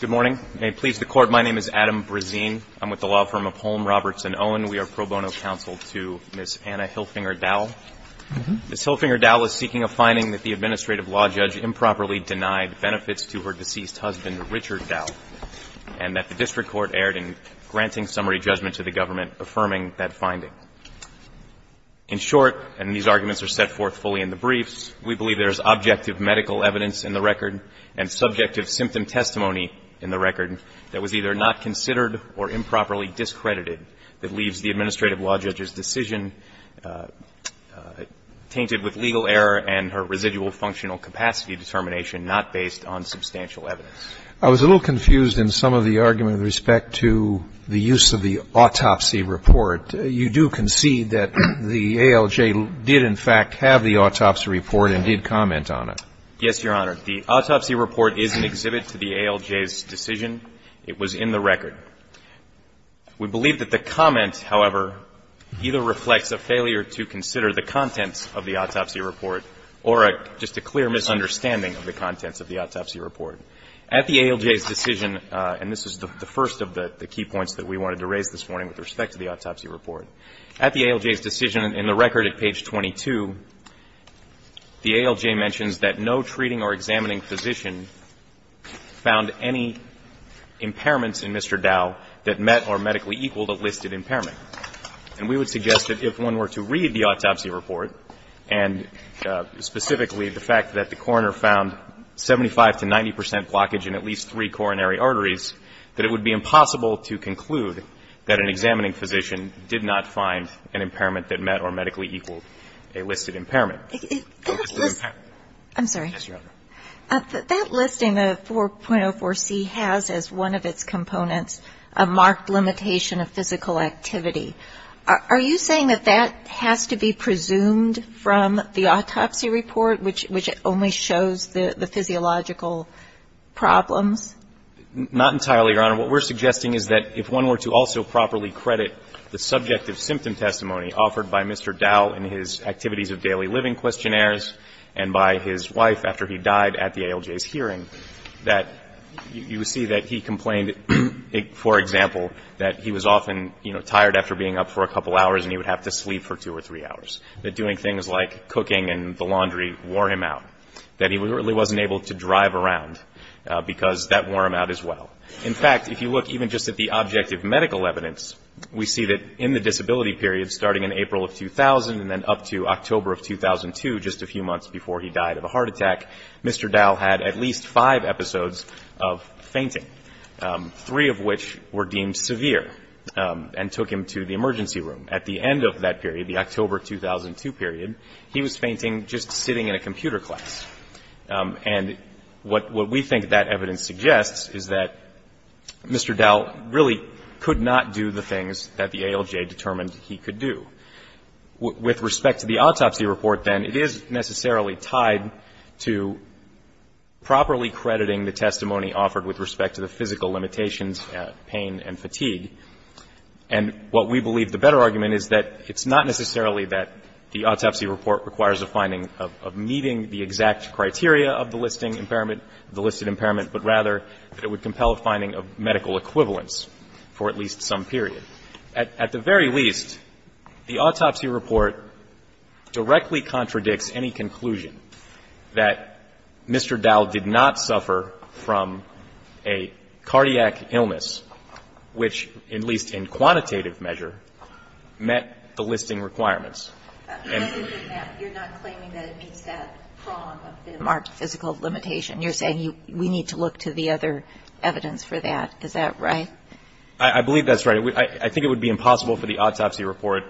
Good morning. May it please the Court, my name is Adam Brezine. I'm with the law firm of Holm, Roberts & Owen. We are pro bono counsel to Ms. Anna Hilfinger-Dowell. Ms. Hilfinger-Dowell is seeking a finding that the administrative law judge improperly denied benefits to her deceased husband, Richard Dowell, and that the district court erred in granting summary judgment to the government affirming that finding. In short, and these arguments are set forth fully in the briefs, we believe there is objective medical evidence in the record and subjective symptom testimony in the record that was either not considered or improperly discredited that leaves the administrative law judge's decision tainted with legal error and her residual functional capacity determination not based on substantial evidence. I was a little confused in some of the argument with respect to the use of the autopsy report. You do concede that the ALJ did, in fact, have the autopsy report and did comment on it. Yes, Your Honor. The autopsy report is an exhibit to the ALJ's decision. It was in the record. We believe that the comment, however, either reflects a failure to consider the contents of the autopsy report or just a clear misunderstanding of the contents of the autopsy report. At the ALJ's decision, and this is the first of the key points that we wanted to raise this morning with respect to the autopsy report, at the ALJ's decision in the record at page 22, the ALJ mentions that no treating or examining physician found any impairments in Mr. Dow that met or medically equaled a listed impairment. And we would suggest that if one were to read the autopsy report, and specifically the fact that the coroner found 75 to 90 percent blockage in at least three coronary arteries, that it would be impossible to conclude that an examining physician did not find an impairment that met or medically equaled a listed impairment. I'm sorry. Yes, Your Honor. That listing, the 4.04c, has as one of its components a marked limitation of physical activity. Are you saying that that has to be presumed from the autopsy report, which only shows the physiological problems? Not entirely, Your Honor. What we're suggesting is that if one were to also properly credit the subjective symptom testimony offered by Mr. Dow in his activities of daily living questionnaires and by his wife after he died at the ALJ's hearing, that you would see that he complained, for example, that he was often, you know, tired after being up for a couple of hours and he would have to sleep for two or three hours, that doing things like cooking and the laundry wore him out, that he really wasn't able to drive around because that wore him out as well. In fact, if you look even just at the objective medical evidence, we see that in the disability period starting in April of 2000 and then up to October of 2002, just a few months before he died of a heart attack, Mr. Dow had at least five episodes of fainting, three of which were deemed severe and took him to the emergency room. At the end of that period, the October 2002 period, he was fainting just sitting in a computer class. And what we think that evidence suggests is that Mr. Dow really could not do the things that the ALJ determined he could do. With respect to the autopsy report, then, it is necessarily tied to properly crediting the testimony offered with respect to the physical limitations, pain and fatigue. And what we believe the better argument is that it's not necessarily that the autopsy report requires a finding of meeting the exact criteria of the listing impairment, the listed impairment, but rather that it would compel a finding of medical equivalence for at least some period. At the very least, the autopsy report directly contradicts any conclusion that Mr. Dow did not suffer from a cardiac illness which, at least in quantitative measure, met the listing requirements. And you're not claiming that it meets that prong of the marked physical limitation. You're saying we need to look to the other evidence for that. Is that right? I believe that's right. I think it would be impossible for the autopsy report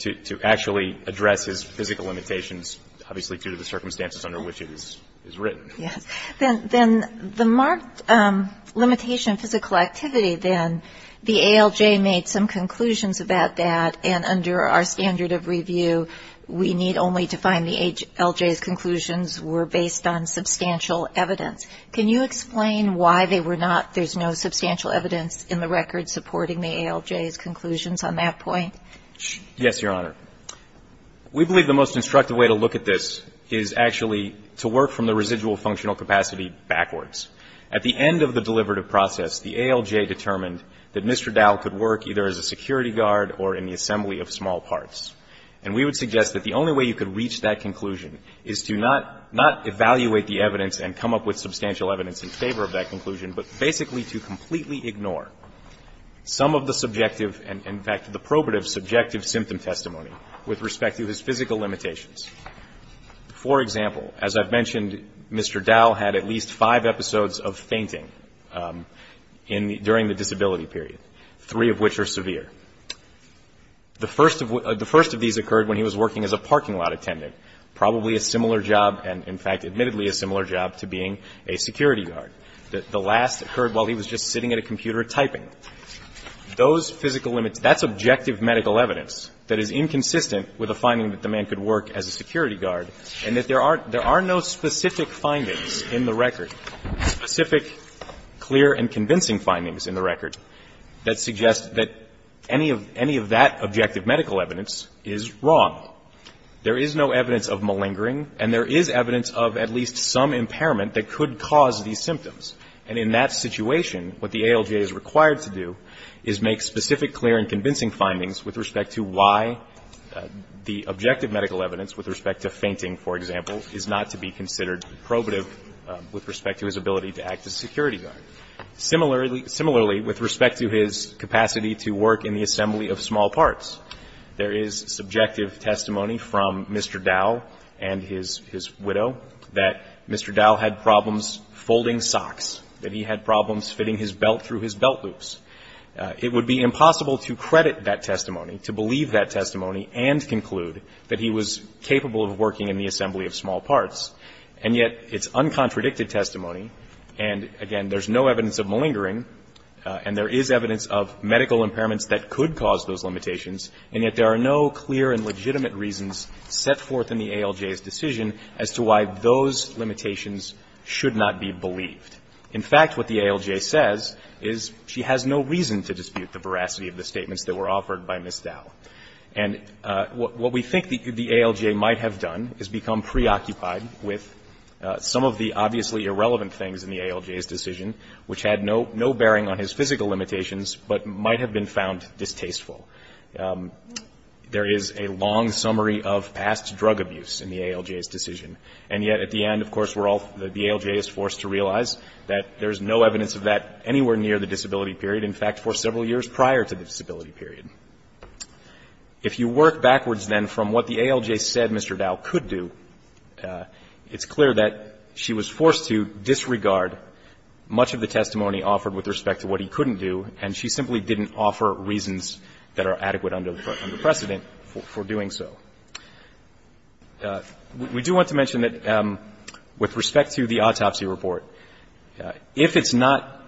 to actually address his physical limitations, obviously, due to the circumstances under which it is written. Yes. Then the marked limitation of physical activity, then, the ALJ made some conclusions about that, and under our standard of review, we need only to find the ALJ's conclusions were based on substantial evidence. Can you explain why they were not, there's no substantial evidence in the record supporting the ALJ's conclusions on that point? Yes, Your Honor. We believe the most instructive way to look at this is actually to work from the residual functional capacity backwards. At the end of the deliverative process, the ALJ determined that Mr. Dow could work either as a security guard or in the assembly of small parts. And we would suggest that the only way you could reach that conclusion is to not evaluate the evidence and come up with substantial evidence in favor of that conclusion, but basically to completely ignore some of the subjective and, in fact, the probative subjective symptom testimony with respect to his physical limitations. For example, as I've mentioned, Mr. Dow had at least five episodes of fainting in the, during the disability period, three of which are severe. The first of these occurred when he was working as a parking lot attendant, probably a similar job and, in fact, admittedly a similar job to being a security guard. The last occurred while he was just sitting at a computer typing. Those physical limits, that's objective medical evidence that is inconsistent with a finding that the man could work as a security guard and that there are no specific findings in the record, specific, clear and convincing findings in the record that suggest that any of that objective medical evidence is wrong. There is no evidence of malingering and there is evidence of at least some impairment that could cause these symptoms. And in that situation, what the ALJ is required to do is make specific, clear and convincing findings with respect to why the objective medical evidence with respect to fainting, for example, is not to be considered probative with respect to his ability to act as a security guard. Similarly, with respect to his capacity to work in the assembly of small parts, there is subjective testimony from Mr. Dow and his widow that Mr. Dow had been having problems folding socks, that he had problems fitting his belt through his belt loops. It would be impossible to credit that testimony, to believe that testimony and conclude that he was capable of working in the assembly of small parts. And yet it's uncontradicted testimony and, again, there's no evidence of malingering and there is evidence of medical impairments that could cause those limitations and yet there are no clear and legitimate reasons set forth in the ALJ's decision as to why those limitations should not be believed. In fact, what the ALJ says is she has no reason to dispute the veracity of the statements that were offered by Ms. Dow. And what we think the ALJ might have done is become preoccupied with some of the obviously irrelevant things in the ALJ's decision, which had no bearing on his physical limitations but might have been found distasteful. There is a long summary of past drug abuse in the ALJ's decision. And yet at the end, of course, we're all the ALJ is forced to realize that there's no evidence of that anywhere near the disability period, in fact, for several years prior to the disability period. If you work backwards, then, from what the ALJ said Mr. Dow could do, it's clear that she was forced to disregard much of the testimony offered with respect to what he couldn't do, and she simply didn't offer reasons that are adequate under precedent for doing so. We do want to mention that with respect to the autopsy report, if it's not,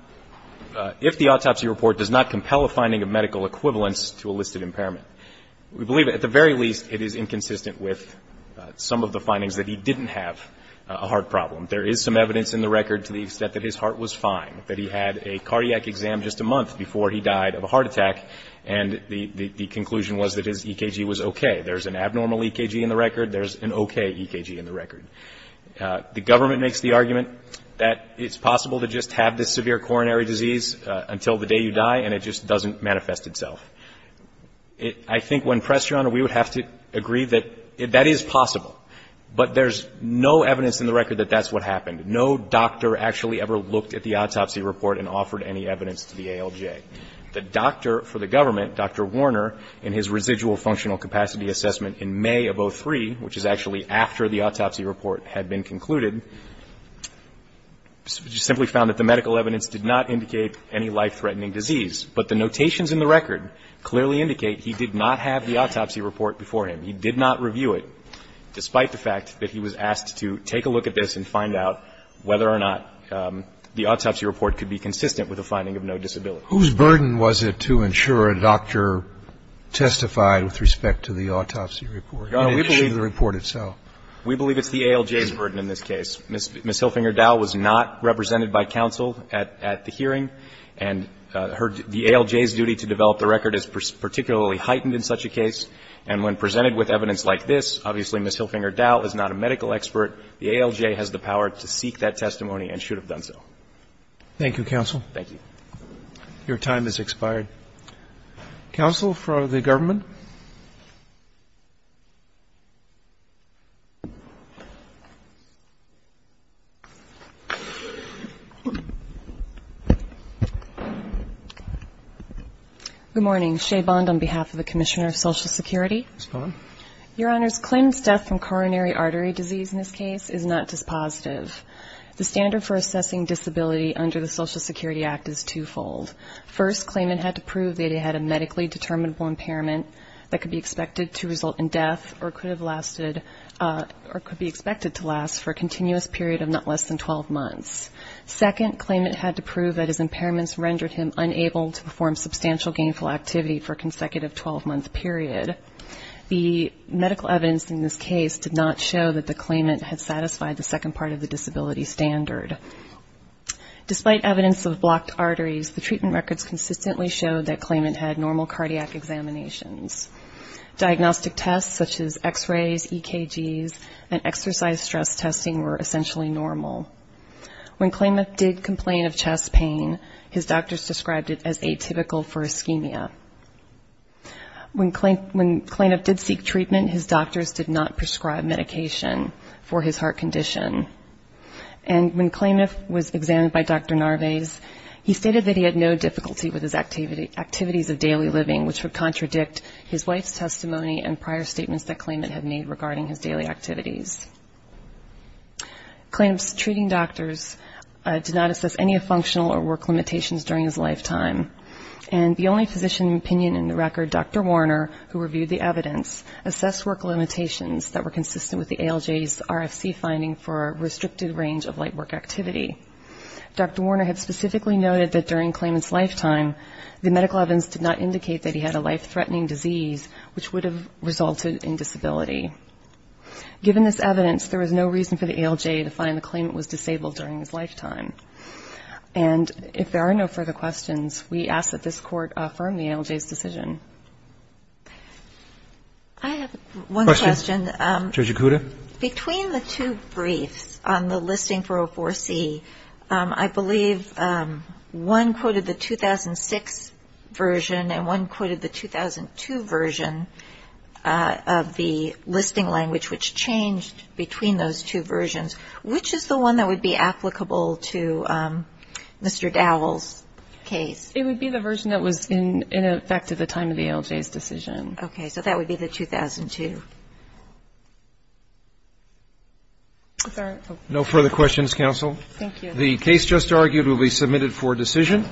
if the autopsy report does not compel a finding of medical equivalence to a listed impairment, we believe at the very least it is inconsistent with some of the findings that he didn't have a heart problem. There is some evidence in the record to the extent that his heart was fine, that he had a cardiac exam just a month before he died of a heart attack, and the conclusion was that his EKG was okay. There's an abnormal EKG in the record. There's an okay EKG in the record. The government makes the argument that it's possible to just have this severe coronary disease until the day you die, and it just doesn't manifest itself. I think when pressed, Your Honor, we would have to agree that that is possible, but there's no evidence in the record that that's what happened. No doctor actually ever looked at the autopsy report and offered any evidence to the ALJ. The doctor for the government, Dr. Warner, in his residual functional capacity assessment in May of 2003, which is actually after the autopsy report had been concluded, simply found that the medical evidence did not indicate any life-threatening disease. But the notations in the record clearly indicate he did not have the autopsy report before him. He did not review it, despite the fact that he was asked to take a look at this and find out whether or not the autopsy report could be consistent with a finding of no disability. Who's burden was it to ensure a doctor testified with respect to the autopsy report? We believe it's the ALJ's burden in this case. Ms. Hilfinger Dowell was not represented by counsel at the hearing, and the ALJ's duty to develop the record is particularly heightened in such a case. And when presented with evidence like this, obviously Ms. Hilfinger Dowell is not a medical expert. The ALJ has the power to seek that testimony and should have done so. Roberts. Thank you, counsel. Thank you. Your time has expired. Counsel for the government. Good morning. Ms. Bond. Your Honors, Klayman's death from coronary artery disease in this case is not dispositive. The standard for assessing disability under the Social Security Act is twofold. First, Klayman had to prove that he had a medically determinable impairment that could be expected to result in death or could be expected to last for a continuous period of not less than 12 months. Second, Klayman had to prove that his impairments rendered him unable to perform substantial gainful activity for a consecutive 12-month period. The medical evidence in this case did not show that the Klayman had satisfied the second part of the disability standard. Despite evidence of blocked arteries, the treatment records consistently showed that Klayman had normal cardiac examinations. Diagnostic tests such as x-rays, EKGs, and exercise stress testing were essentially normal. When Klayman did complain of chest pain, his doctors described it as atypical for ischemia. When Klayman did seek treatment, his doctors did not prescribe medication for his heart condition. And when Klayman was examined by Dr. Narvaez, he stated that he had no difficulty with his activities of daily living, which would contradict his wife's testimony and prior statements that Klayman had made regarding his daily activities. Klayman's treating doctors did not assess any functional or work limitations during his lifetime. And the only physician in opinion in the record, Dr. Warner, who reviewed the evidence, assessed work limitations that were consistent with the ALJ's RFC finding for a restricted range of light work activity. Dr. Warner had specifically noted that during Klayman's lifetime, the medical evidence did not indicate that he had a life-threatening disease, which would have resulted in disability. Given this evidence, there was no reason for the ALJ to find the claimant was disabled during his lifetime. And if there are no further questions, we ask that this Court affirm the ALJ's decision. I have one question. Between the two briefs on the listing for O4C, I believe one quoted the 2006 version and one quoted the 2002 version of the listing language, which changed between those two versions. Which is the one that would be applicable to Mr. Dowell's case? It would be the version that was in effect at the time of the ALJ's decision. Okay. So that would be the 2002. If there are no further questions, counsel. Thank you. The case just argued will be submitted for decision.